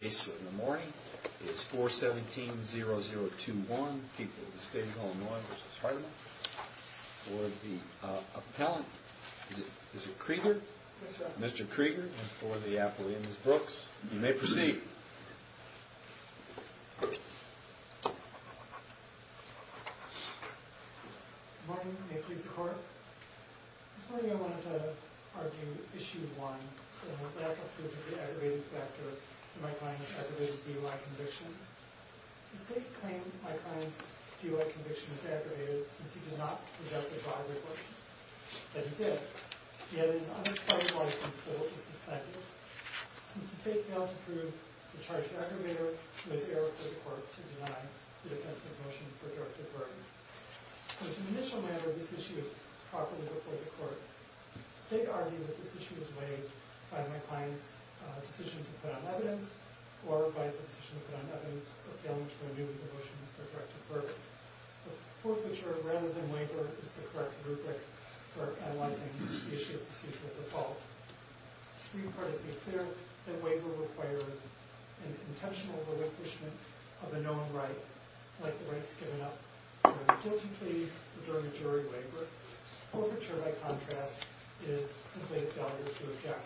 The case in the morning is 417-0021, People of the State of Illinois v. Hartema. For the appellant, is it Krieger? Yes, sir. Mr. Krieger, and for the appellant, Ms. Brooks, you may proceed. Good morning. May it please the Court? This morning I wanted to argue Issue 1, the lack of proof of the aggravated factor in my client's aggravated DUI conviction. The State claimed that my client's DUI conviction was aggravated since he did not possess a driver's license. Yet he did. He had an unexpected license that was suspended. Since the State failed to prove the charge of aggravator, it was error for the Court to deny the offense of motion for character burden. As an initial matter, this issue is properly before the Court. The State argued that this issue is weighed by my client's decision to put on evidence, or by the decision to put on evidence for failing to renew the motion for character burden. Forfeiture, rather than waiver, is the correct rubric for analyzing the issue of procedural default. The Supreme Court has declared that waiver requires an intentional relinquishment of a known right, like the rights given up during a guilty plea or during a jury waiver. Forfeiture, by contrast, is simply a failure to object.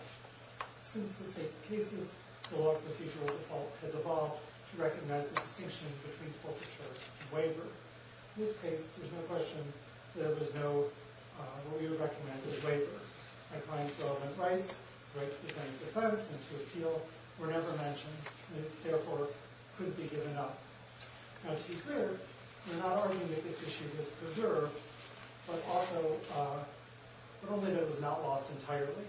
Since the State's cases, the law of procedural default has evolved to recognize the distinction between forfeiture and waiver. In this case, there's no question that there was no earlier recommended waiver. My client's relevant rights, the right to defend his defense and to appeal, were never mentioned, and therefore couldn't be given up. Now, to be clear, we're not arguing that this issue was preserved, but also that it was not lost entirely.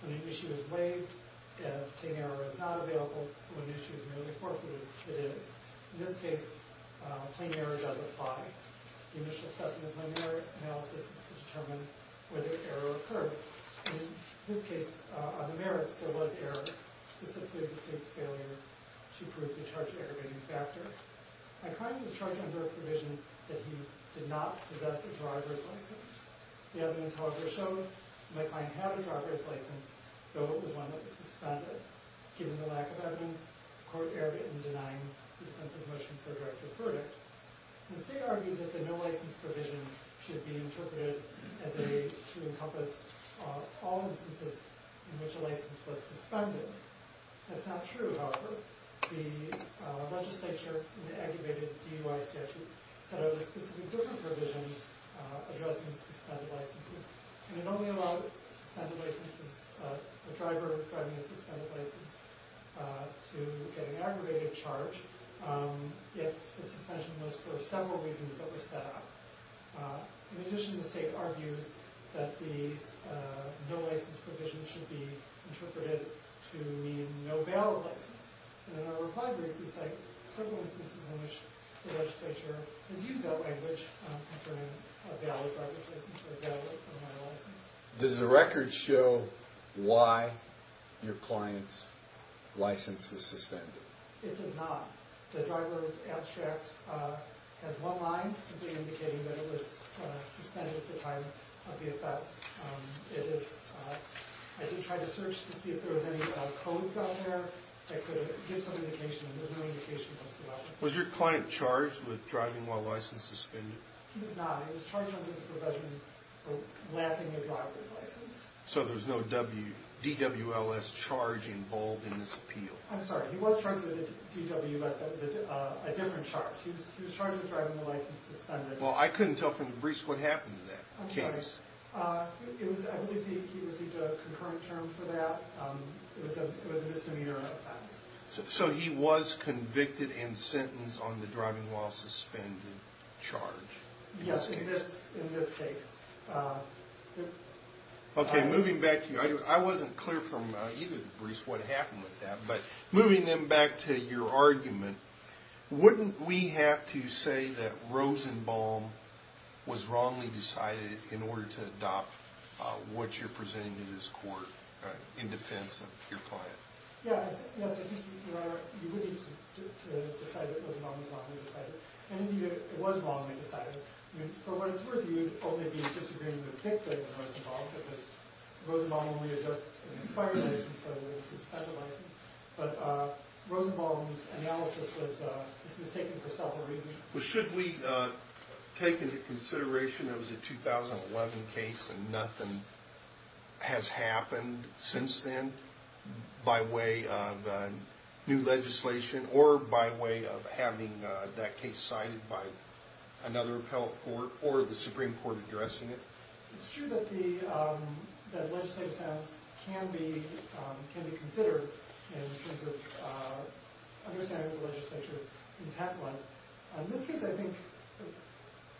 When an issue is weighed, a plain error is not available. When an issue is merely forfeited, it is. In this case, a plain error does apply. The initial step in the plain error analysis is to determine whether error occurred. In this case, on the merits, there was error. This included the State's failure to prove the charge-aggravating factor. My client was charged under a provision that he did not possess a driver's license. The evidence, however, showed that my client had a driver's license, though it was one that was suspended. Given the lack of evidence, the court erred in denying the intent of the motion for character burden. The State argues that the no-license provision should be interpreted as a way to encompass all instances in which a license was suspended. That's not true, however. The legislature, in the aggravated DUI statute, set out specific different provisions addressing suspended licenses. It only allowed a driver driving a suspended license to get an aggravated charge if the suspension was for several reasons that were set out. In addition, the State argues that the no-license provision should be interpreted to mean no valid license. In our reply brief, we cite several instances in which the legislature has used that language concerning a valid driver's license or a valid no-license. Does the record show why your client's license was suspended? It does not. The driver was abstract, has one line simply indicating that it was suspended at the time of the offense. I did try to search to see if there was any codes out there that could give some indication, and there's no indication whatsoever. Was your client charged with driving while license suspended? He was not. He was charged under the provision for lapping a driver's license. So there was no DWLS charge involved in this appeal? I'm sorry. He was charged with a DWLS. That was a different charge. He was charged with driving while license suspended. Well, I couldn't tell from the briefs what happened to that case. I'm sorry. I believe he received a concurrent term for that. It was a misdemeanor offense. So he was convicted and sentenced on the driving while suspended charge in this case? Yes, in this case. Okay, moving back to you. I wasn't clear from either of the briefs what happened with that, but moving then back to your argument, wouldn't we have to say that Rosenbaum was wrongly decided in order to adopt what you're presenting to this court in defense of your client? Yes, I think you would need to decide that Rosenbaum was wrongly decided. And it was wrongly decided. From what it's worth, you'd only be disagreeing with the victim, Rosenbaum, because Rosenbaum only adjusts an expired license, rather than a suspended license. But Rosenbaum's analysis was mistaken for several reasons. Should we take into consideration that it was a 2011 case and nothing has happened since then by way of new legislation or by way of having that case cited by another appellate court or the Supreme Court addressing it? It's true that legislative silence can be considered in terms of understanding what the legislature's intent was. In this case, I think,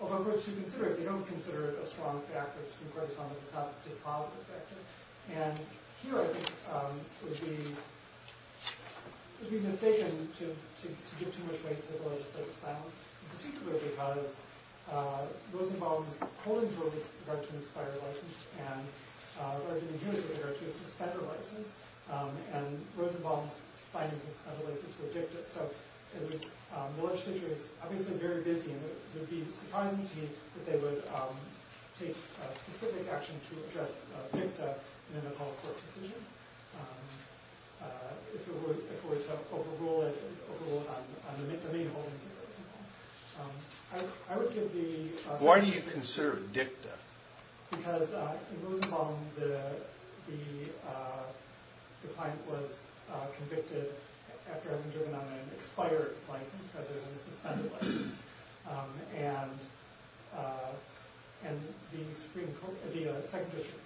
although courts should consider it, they don't consider it a strong fact that the Supreme Court has found that it's not a dispositive factor. And here, I think, it would be mistaken to give too much weight to the legislative silence. Particularly because Rosenbaum's holdings were with regard to an expired license. And the argument here is that there is a suspended license. And Rosenbaum's findings of a suspended license were dicta. So the legislature is obviously very busy. And it would be surprising to me that they would take specific action to address dicta in an appellate court decision. If it were to overrule it on the main holdings of Rosenbaum. Why do you consider it dicta? Because in Rosenbaum, the client was convicted after having driven on an expired license rather than a suspended license. And the Second District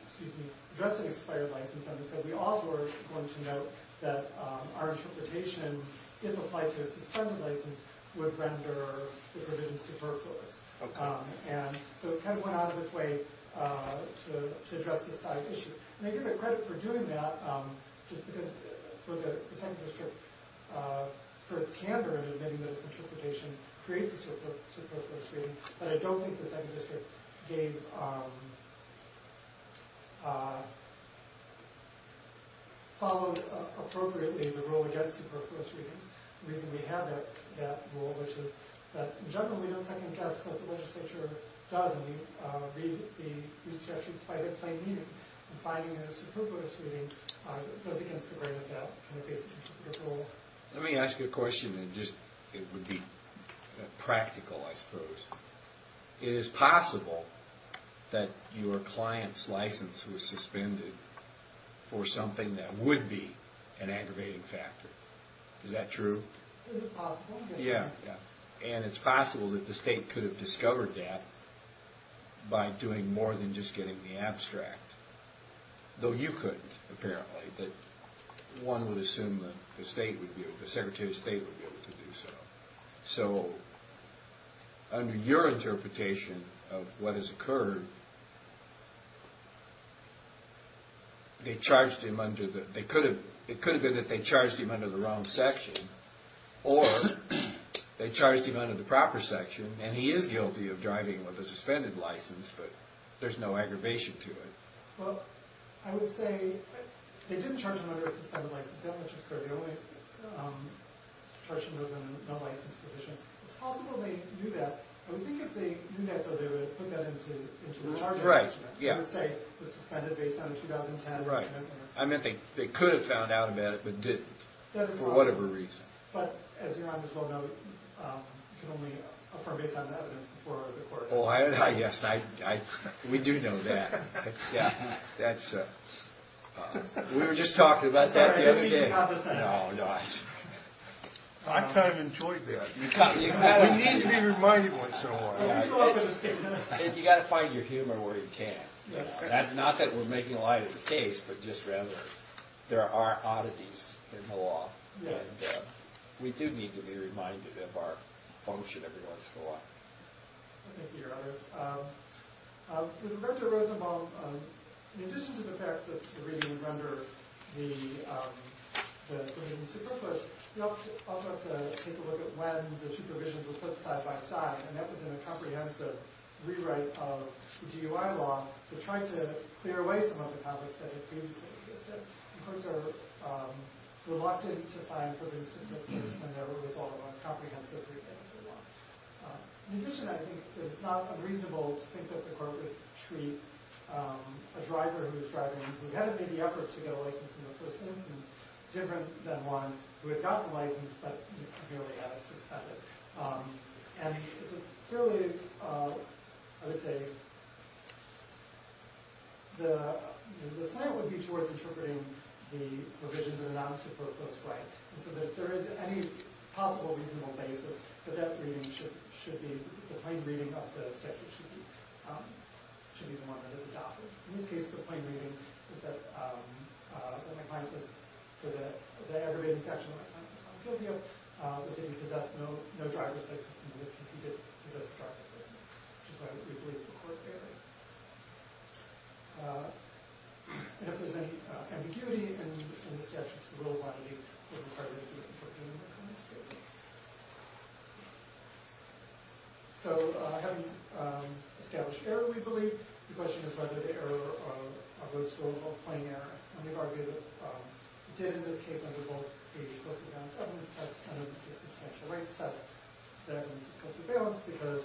addressed an expired license and said, We also are going to note that our interpretation, if applied to a suspended license, would render the provisions superfluous. And so it kind of went out of its way to address this side issue. And I give it credit for doing that. Just because for the Second District, for its candor in admitting that its interpretation creates a superfluous reading. But I don't think the Second District followed appropriately the rule against superfluous readings. The reason we have that rule, which is that, in general, we don't second-guess what the legislature does. We read the instructions by their plain meaning. And finding a superfluous reading goes against the grain of that rule. Let me ask you a question that would be practical, I suppose. It is possible that your client's license was suspended for something that would be an aggravating factor. Is that true? It is possible, yes. And it's possible that the State could have discovered that by doing more than just getting the abstract. Though you couldn't, apparently. One would assume that the Secretary of State would be able to do so. So, under your interpretation of what has occurred, it could have been that they charged him under the wrong section. Or they charged him under the proper section. And he is guilty of driving with a suspended license. But there's no aggravation to it. Well, I would say they didn't charge him under a suspended license. That much is clear. They only charged him under a non-licensed position. It's possible they knew that. I would think if they knew that, though, they would put that into the argument. They would say it was suspended based on a 2010 amendment. I mean, they could have found out about it, but didn't. For whatever reason. But, as you might as well know, you can only affirm based on the evidence before the court. Oh, yes, we do know that. We were just talking about that the other day. I kind of enjoyed that. We need to be reminded once in a while. You've got to find your humor where you can. Not that we're making light of the case, but just rather there are oddities in the law. And we do need to be reminded of our function every once in a while. Thank you, Your Honors. With Roberto Rosemont, in addition to the fact that the reading would render the proceedings superfluous, we also have to take a look at when the two provisions were put side-by-side. And that was in a comprehensive rewrite of the GUI law that tried to clear away some of the conflicts that had previously existed. The courts are reluctant to find further significance whenever it was all about comprehensive rewriting of the law. In addition, I think it's not unreasonable to think that the court would treat a driver who's driving, who hadn't made the effort to get a license in the first instance, different than one who had gotten the license but clearly hadn't suspended. And it's a fairly, I would say, the assignment would be towards interpreting the provisions in a non-superfluous way. And so that if there is any possible reasonable basis, that that reading should be, the plain reading of the statute should be the one that is adopted. In this case, the plain reading is that, that my client was, for the aggravated infraction of my client's propaganda, was that he possessed no driver's license. In this case, he did possess a driver's license, which is why we believe the court failed. And if there's any ambiguity in the statutes, the rule of law would require that you interpret them in that kind of state. So, having established error, we believe, the question is whether the error arose from a plain error. And we've argued that it did in this case under both a fiscal surveillance evidence test and a substantial rights test, that evidence was fiscal surveillance because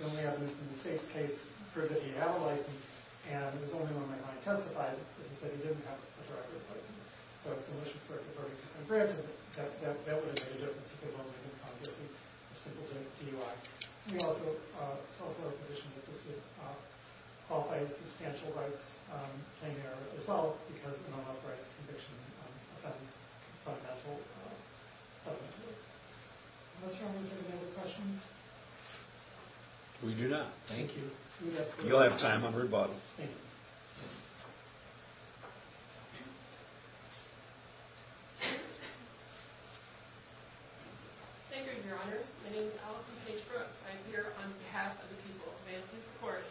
the only evidence in the state's case proved that he had a license, and it was only when my client testified that he said he didn't have a driver's license. So, it's an issue for the 32-point bridge, and that would have made a difference if they weren't making it obviously simple to DUI. We also, it's also our position that this would qualify as substantial rights, a plain error as well, because an unauthorized conviction offense is not natural. Are there any other questions? We do not. Thank you. You'll have time on rebuttal. Thank you, your honors. My name is Allison Page Brooks. I'm here on behalf of the people. May I please report,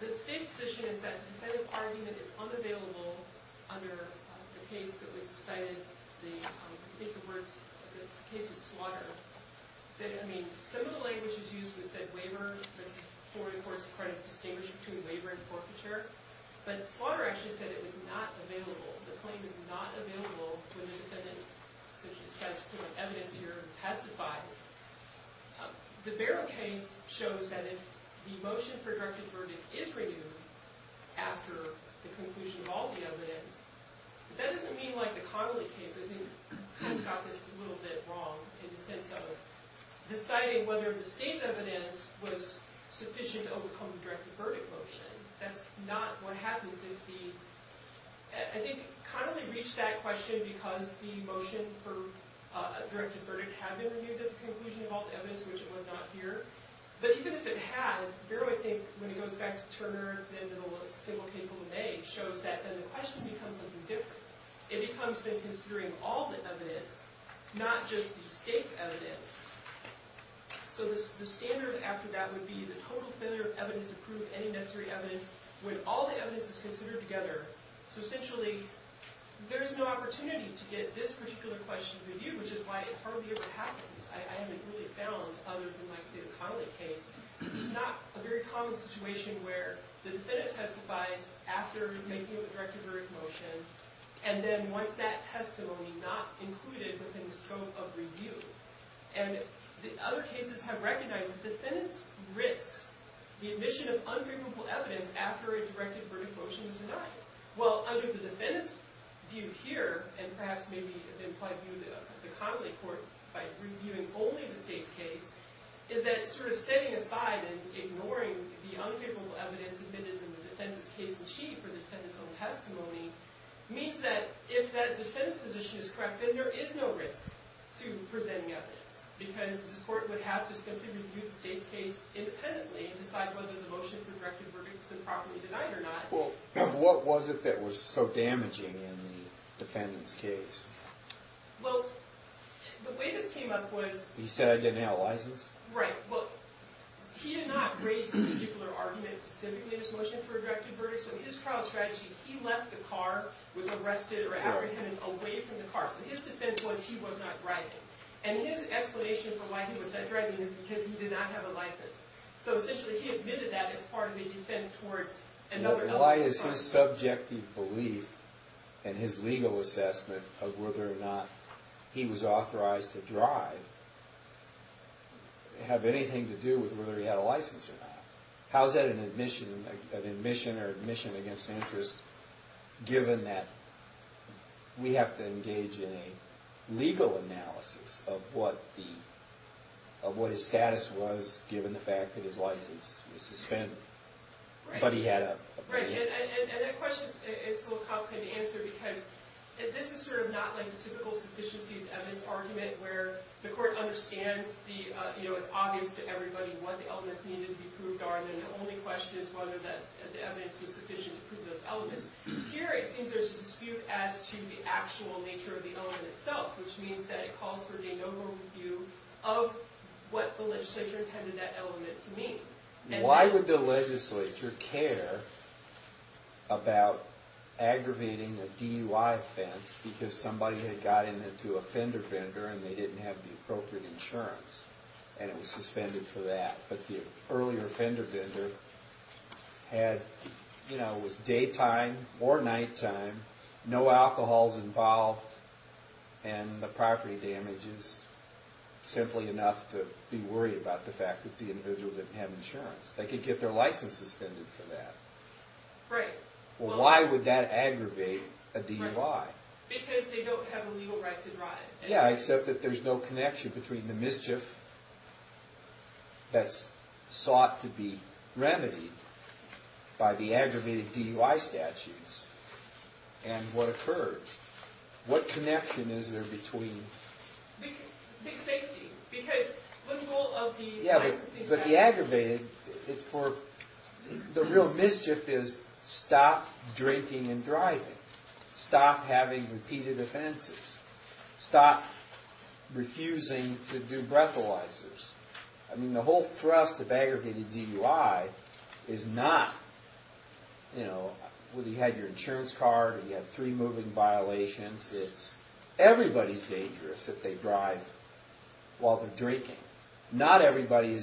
the state's position is that the defendant's argument is unavailable under the case that was decided, I think the case was Slaughter, that, I mean, some of the language that was used was said, waiver versus foreign courts credit, distinguish between waiver and forfeiture, but Slaughter actually said it was not available. The claim is not available when the defendant, since he's satisfied evidence here, testifies. The Barrow case shows that if the motion for directive verdict is renewed after the conclusion of all the evidence, that doesn't mean like the Connolly case, I think Connolly got this a little bit wrong in the sense of deciding whether the state's evidence was sufficient to overcome the directive verdict motion. That's not what happens if the, I think Connolly reached that question because the motion for directive verdict had been renewed at the conclusion of all the evidence, which it was not here. But even if it has, Barrow, I think, when it goes back to Turner, then to the single case of LeMay, shows that then the question becomes something different. It becomes then considering all the evidence, not just the state's evidence. So the standard after that would be the total failure of evidence to prove any necessary evidence when all the evidence is considered together. So essentially, there's no opportunity to get this particular question reviewed, which is why it hardly ever happens. I haven't really found, other than my state of Connolly case, there's not a very common situation where the defendant testifies after making the directive verdict motion, and then wants that testimony not included within the scope of review. And the other cases have recognized the defendant's risks, the admission of unfavorable evidence after a directive verdict motion is denied. Well, under the defendant's view here, and perhaps maybe the implied view of the Connolly court by reviewing only the state's case, is that sort of setting aside and ignoring the unfavorable evidence admitted in the defendant's case in chief or the defendant's own testimony means that if that defense position is correct, then there is no risk to presenting evidence. Because this court would have to simply review the state's case independently and decide whether the motion for directive verdict was improperly denied or not. Well, what was it that was so damaging in the defendant's case? Well, the way this came up was... He said I didn't have a license? Right, well, he did not raise this particular argument specifically in his motion for a directive verdict. So his trial strategy, he left the car, was arrested or apprehended away from the car. So his defense was he was not driving. And his explanation for why he was not driving is because he did not have a license. So essentially he admitted that as part of a defense towards another... Why is his subjective belief and his legal assessment of whether or not he was authorized to drive have anything to do with whether he had a license or not? How is that an admission or admission against interest given that we have to engage in a legal analysis of what his status was given the fact that his license was suspended? Right. But he had a... Right, and that question is a little complicated to answer because this is sort of not like the typical sufficiency of evidence argument where the court understands it's obvious to everybody what the elements needed to be proved are and then the only question is whether the evidence was sufficient to prove those elements. Here it seems there's a dispute as to the actual nature of the element itself which means that it calls for a no vote review of what the legislature intended that element to mean. Why would the legislature care about aggravating a DUI offense because somebody had gotten into a fender bender and they didn't have the appropriate insurance and it was suspended for that but the earlier fender bender had, you know, it was daytime or nighttime no alcohols involved and the property damage is simply enough to be worried about the fact that the individual didn't have insurance. They could get their license suspended for that. Right. Well, why would that aggravate a DUI? Because they don't have a legal right to drive. Yeah, except that there's no connection between the mischief that's sought to be remedied by the aggravated DUI statutes and what occurs. What connection is there between... Big safety. Because the goal of the licensing statute... Yeah, but the aggravated, it's for... The real mischief is stop drinking and driving. Stop having repeated offenses. Stop refusing to do breathalyzers. I mean, the whole thrust of aggregated DUI is not, you know, well, you had your insurance card and you have three moving violations. It's... Everybody's dangerous if they drive while they're drinking. Not everybody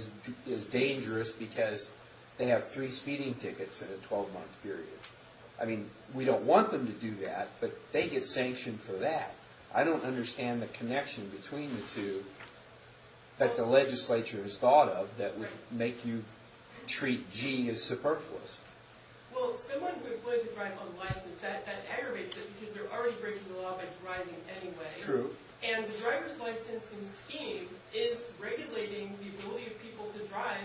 is dangerous because they have three speeding tickets in a 12-month period. I mean, we don't want them to do that, but they get sanctioned for that. I don't understand the connection between the two that the legislature has thought of that would make you treat G as superfluous. Well, someone who is willing to drive unlicensed, that aggravates it because they're already breaking the law by driving anyway. True. And the driver's licensing scheme is regulating the ability of people to drive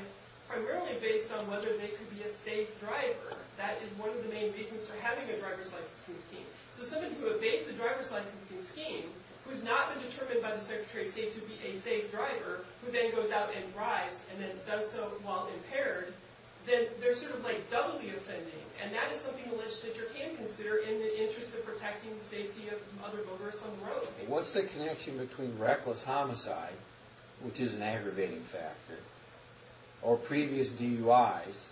primarily based on whether they could be a safe driver. That is one of the main reasons for having a driver's licensing scheme. So someone who evades the driver's licensing scheme, who's not been determined by the Secretary of State to be a safe driver, who then goes out and drives and then does so while impaired, then they're sort of, like, doubly offending. And that is something the legislature can consider in the interest of protecting the safety of other motorists on the road. What's the connection between reckless homicide, which is an aggravating factor, or previous DUIs,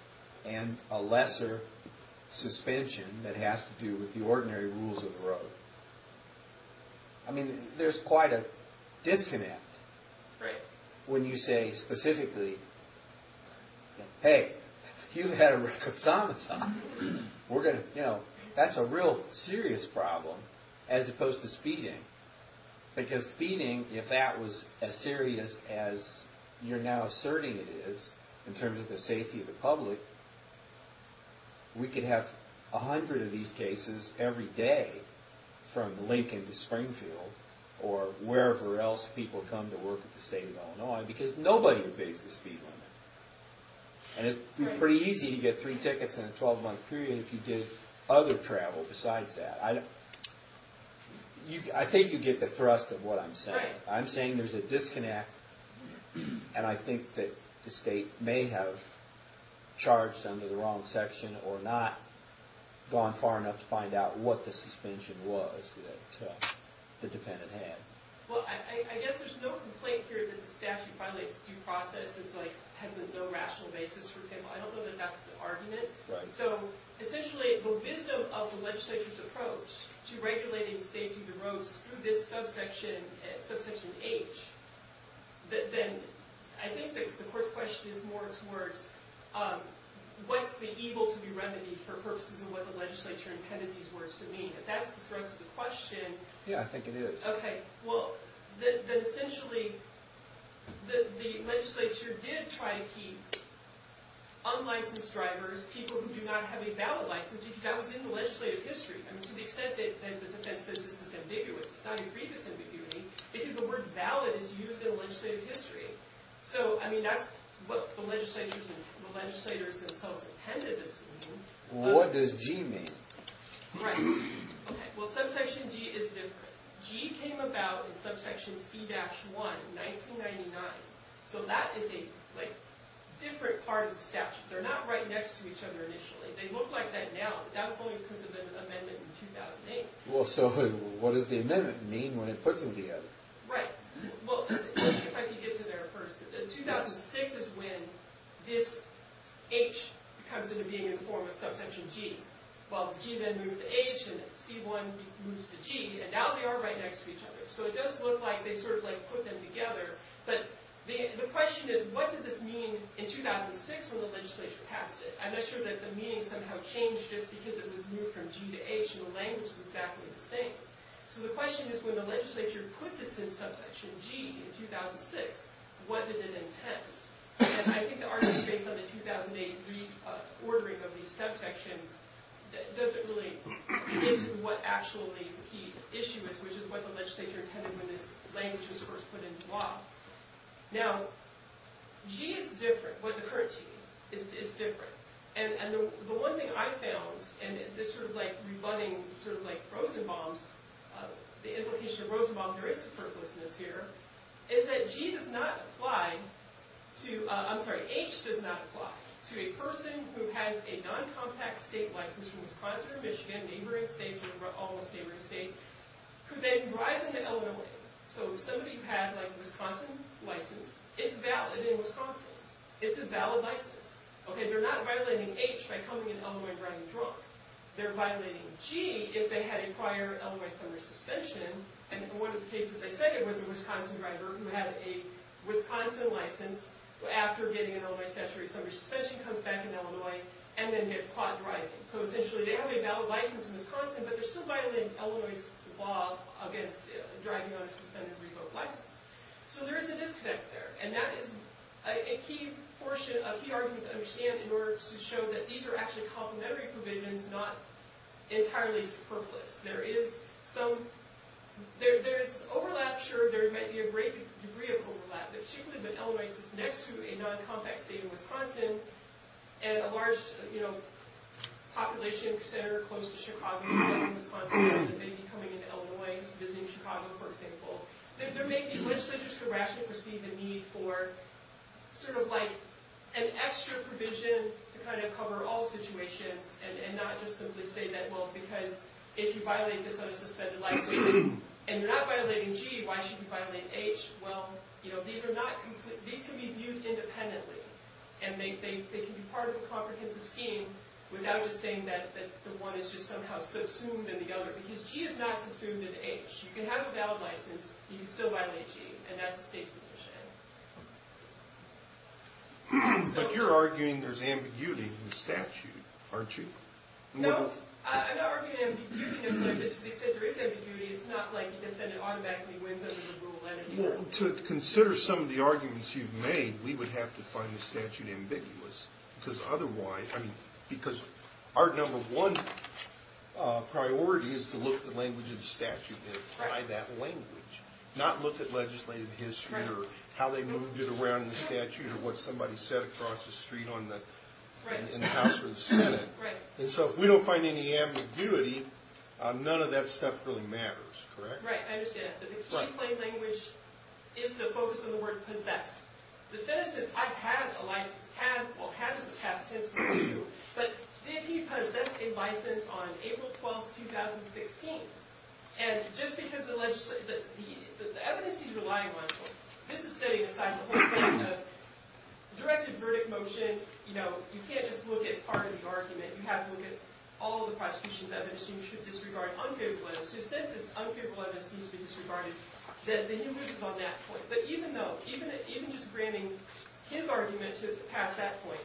and a lesser suspension that has to do with the ordinary rules of the road? I mean, there's quite a disconnect when you say specifically, hey, you've had a reckless homicide. We're going to, you know, that's a real serious problem as opposed to speeding. Because speeding, if that was as serious as you're now asserting it is in terms of the safety of the public, we could have a hundred of these cases every day from Lincoln to Springfield or wherever else people come to work at the State of Illinois because nobody evades the speed limit. And it'd be pretty easy to get three tickets in a 12-month period if you did other travel besides that. I think you get the thrust of what I'm saying. I'm saying there's a disconnect. And I think that the state may have charged under the wrong section or not gone far enough to find out what the suspension was that the defendant had. Well, I guess there's no complaint here that the statute violates due process and has a no rational basis, for example. I don't know that that's the argument. So, essentially, the wisdom of the legislature's approach to regulating safety of the roads through this subsection H, then I think the court's question is more towards what's the evil to be remedied for purposes of what the legislature intended these words to mean. If that's the thrust of the question... Yeah, I think it is. Okay, well, then, essentially, the legislature did try to keep unlicensed drivers, people who do not have a valid license, because that was in the legislative history. To the extent that the defense says this is ambiguous, it's not a grievous ambiguity, because the word valid is used in the legislative history. So, I mean, that's what the legislators themselves intended this to mean. What does G mean? Right. Okay, well, subsection G is different. G came about in subsection C-1, 1999. So that is a different part of the statute. They're not right next to each other initially. They look like that now, but that was only because of an amendment in 2008. Well, so what does the amendment mean when it puts them together? Right. Well, if I could get to there first. In 2006 is when this H comes into being in the form of subsection G. Well, G then moves to H, and C-1 moves to G, and now they are right next to each other. So it does look like they sort of put them together, but the question is, what did this mean in 2006 when the legislature passed it? I'm not sure that the meaning somehow changed just because it was moved from G to H, and the language was exactly the same. So the question is, when the legislature put this in subsection G in 2006, what did it intend? And I think the argument based on the 2008 reordering of these subsections doesn't really get to what actually the key issue is, which is what the legislature intended when this language was first put into law. Now, G is different. The current G is different. And the one thing I found, and this sort of rebutting Rosenbaum's, the implication of Rosenbaum, there is superfluousness here, is that G does not apply to, I'm sorry, H does not apply to a person who has a non-compact state license from Wisconsin or Michigan, neighboring states, or almost neighboring states, who then drives into Illinois. So somebody who had a Wisconsin license, it's valid in Wisconsin. It's a valid license. They're not violating H by coming in Illinois and driving drunk. They're violating G if they had a prior Illinois summer suspension, and one of the cases I cited was a Wisconsin driver who had a Wisconsin license after getting an Illinois statutory summer suspension, comes back in Illinois, and then gets caught driving. So essentially, they have a valid license in Wisconsin, but they're still violating Illinois' law against driving on a suspended revoked license. So there is a disconnect there, and that is a key argument to understand in order to show that these are actually complementary provisions, not entirely superfluous. There is some, there is overlap, sure, there might be a great degree of overlap, but she could have been in Illinois, so it's next to a non-compact state in Wisconsin, and a large population center close to Chicago, southern Wisconsin, that may be coming into Illinois, visiting Chicago, for example. There may be, which centers could rationally perceive the need for sort of like an extra provision to kind of cover all situations, and not just simply say that, well, because if you violate this on a suspended license, and you're not violating G, why should you violate H? Well, you know, these are not complete, these can be viewed independently, and they can be part of a comprehensive scheme without us saying that the one is just somehow subsumed in the other, because G is not subsumed in H. You can have a valid license, you can still violate G, and that's a state's position. But you're arguing there's ambiguity in the statute, aren't you? No, I'm not arguing ambiguity, they said there is ambiguity, it's not like the defendant automatically wins under the rule, Well, to consider some of the arguments you've made, we would have to find the statute ambiguous, because otherwise, I mean, because our number one priority is to look at the language of the statute, and apply that language, not look at legislative history, or how they moved it around in the statute, or what somebody said across the street in the House or the Senate, and so if we don't find any ambiguity, none of that stuff really matters, correct? Right, I understand that, but the key in plain language is the focus on the word possess. The defense says, I have a license, well, had is the past tense for the two, but did he possess a license on April 12th, 2016? And just because the evidence he's relying on, this is study aside, the whole point of directed verdict motion, you know, you can't just look at part of the argument, you have to look at all of the prosecution's evidence, and you should disregard unfavorable evidence, so instead if this unfavorable evidence needs to be disregarded, then he loses on that point. But even though, even just granting his argument to pass that point,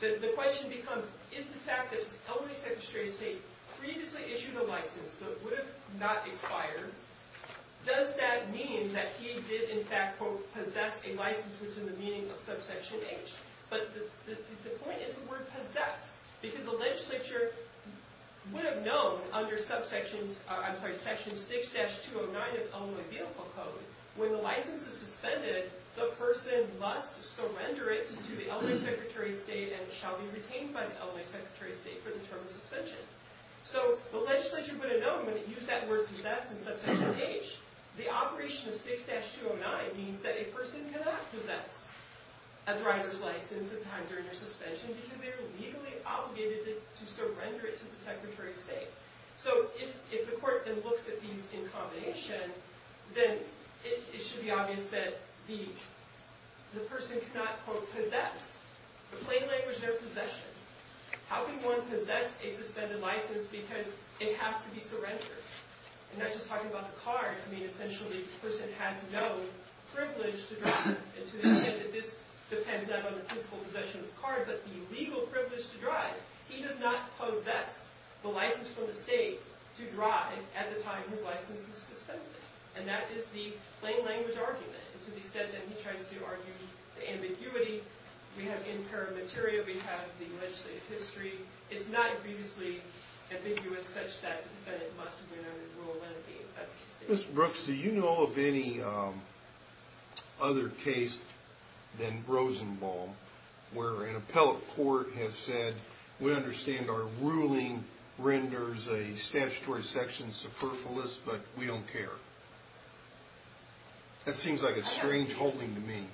the question becomes, is the fact that the elderly Secretary of State previously issued a license, but would have not expired, does that mean that he did, in fact, quote, possess a license, which is in the meaning of subsection H? But the point is the word possess, because the legislature would have known under subsection, I'm sorry, section 6-209 of Illinois Vehicle Code, when the license is suspended, the person must surrender it to the elderly Secretary of State and shall be retained by the elderly Secretary of State for the term of suspension. So the legislature would have known when it used that word possess in subsection H, the operation of 6-209 means that a person cannot possess a driver's license at the time during their suspension because they are legally obligated to surrender it to the Secretary of State. So if the court then looks at these in combination, then it should be obvious that the person cannot, quote, possess. In plain language, no possession. How can one possess a suspended license because it has to be surrendered? And not just talking about the car, I mean, essentially, this person has no privilege to drive. And to the extent that this depends not on the physical possession of the car, but the legal privilege to drive, he does not possess the license from the state to drive at the time his license is suspended. And that is the plain language argument. And to the extent that he tries to argue the ambiguity, we have impaired material, we have the legislative history, it's not previously ambiguous such that the defendant must have been under the rule when it being in effect at the state level. Ms. Brooks, do you know of any other case than Rosenbaum where an appellate court has said, we understand our ruling renders a statutory section superfluous, but we don't care? That seems like a strange holding to me.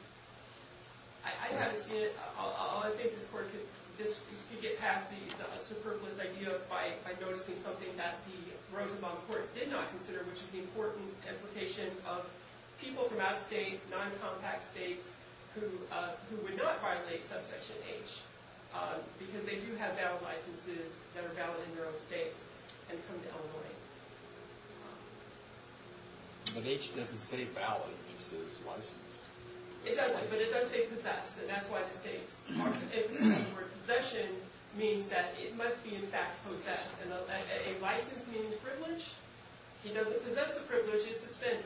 I haven't seen it. I think this court could get past the superfluous idea by noticing something that the Rosenbaum court did not consider, which is the important implication of people from out-of-state, non-compact states who would not violate subsection H because they do have valid licenses that are valid in their own states and come to Illinois. But H doesn't say valid, it just says licensed. It doesn't, but it does say possessed, and that's why the states mark it with a C where possession means that it must be in fact possessed. And a license meaning privilege? He doesn't possess the privilege, it's suspended.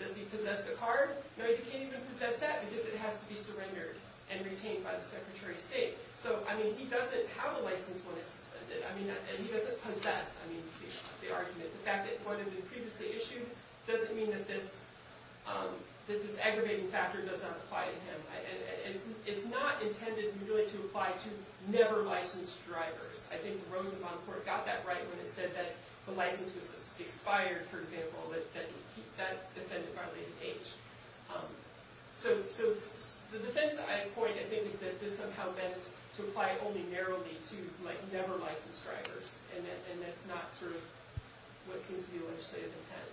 Does he possess the card? No, you can't even possess that because it has to be surrendered and retained by the Secretary of State. So, I mean, he doesn't have a license when it's suspended, and he doesn't possess the argument. The fact that it would have been previously issued doesn't mean that this aggravating factor does not apply to him. It's not intended really to apply to never licensed drivers. I think the Rosenbaum court got that right when it said that the license was expired, for example, that that defendant violated H. So the defense I point, I think, is that this somehow meant to apply only narrowly to never licensed drivers, and that's not sort of what seems to be the legislative intent.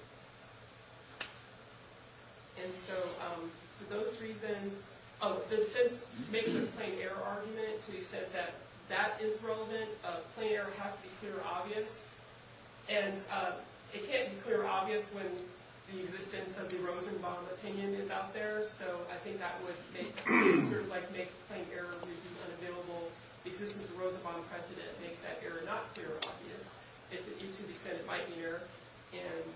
And so for those reasons... Oh, the defense makes a plain error argument to accept that that is relevant. Plain error has to be clear and obvious. And it can't be clear and obvious when the existence of the Rosenbaum opinion is out there. So I think that would make... sort of, like, make a plain error argument unavailable. The existence of the Rosenbaum precedent makes that error not clear and obvious. If it needs to be said, it might be there. And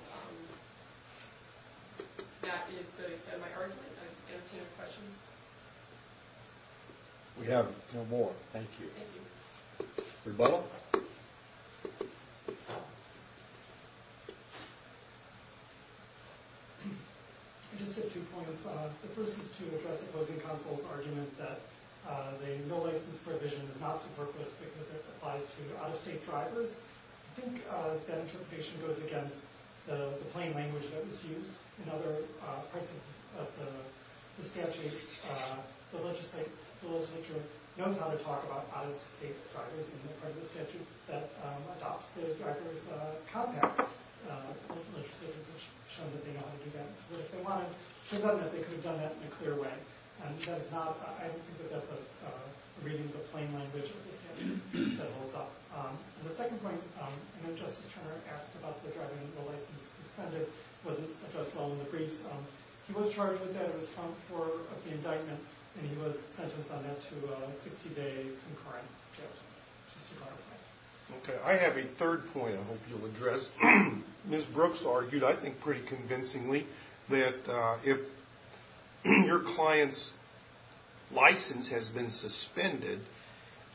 that is the extent of my argument. I entertain no questions. We have no more. Thank you. Thank you. Rebuttal? I just have two points. The first is to address the opposing counsel's argument that the no-license provision is not superfluous because it applies to out-of-state drivers. I think that interpretation goes against the plain language that was used in other parts of the statute. The legislature knows how to talk about out-of-state drivers in the part of the statute that adopts the drivers' compact and the legislature has shown that they know how to do that. So if they wanted to do that, they could have done that in a clear way. And that is not... I don't think that that's a reading of the plain language of the statute that holds up. And the second point, and then Justice Turner asked about the driver and the license suspended, wasn't addressed well in the briefs. He was charged with that. It was found before the indictment. And he was sentenced on that to a 60-day concurrent jail time. Just to clarify. Okay. I have a third point I hope you'll address. Ms. Brooks argued, I think pretty convincingly, that if your client's license has been suspended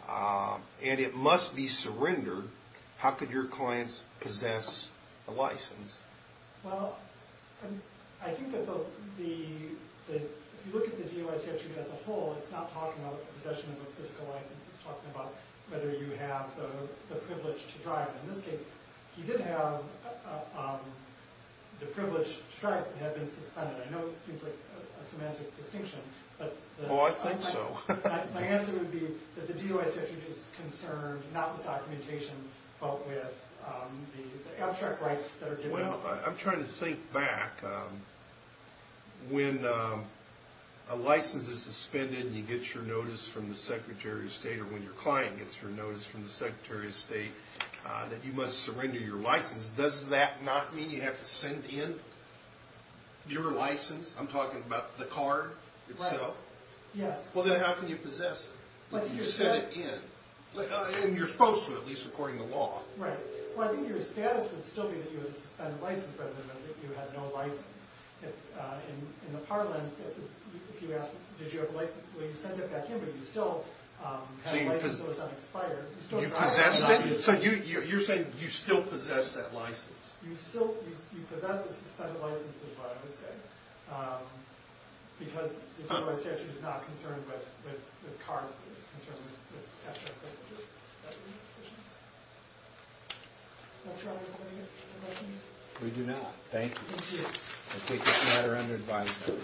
and it must be surrendered, how could your clients possess the license? Well, I think that the... If you look at the DOI statute as a whole, it's not talking about possession of a physical license. It's talking about whether you have the privilege to drive. In this case, he did have the privilege to drive. It had been suspended. I know it seems like a semantic distinction. Oh, I think so. My answer would be that the DOI statute is concerned not with documentation but with the abstract rights that are given out. Well, I'm trying to think back. and you get your notice from the Secretary of State or when your client gets her notice from the Secretary of State that you must surrender your license. Does that not mean you have to send in your license? I'm talking about the card itself? Yes. Well, then how can you possess it? You send it in. And you're supposed to, at least according to law. Right. Well, I think your status would still be that you had a suspended license rather than that you had no license. In the parlance, if you ask, did you have a license? Well, you sent it back in, but you still had a license, so it's not expired. So you're saying you still possess that license? You still possess a suspended license is what I would say. Because the DOI statute is not concerned with cards. It's concerned with abstract privileges. That make sense? Is that your answer? We do not. Thank you. Thank you. I take this matter under advisory.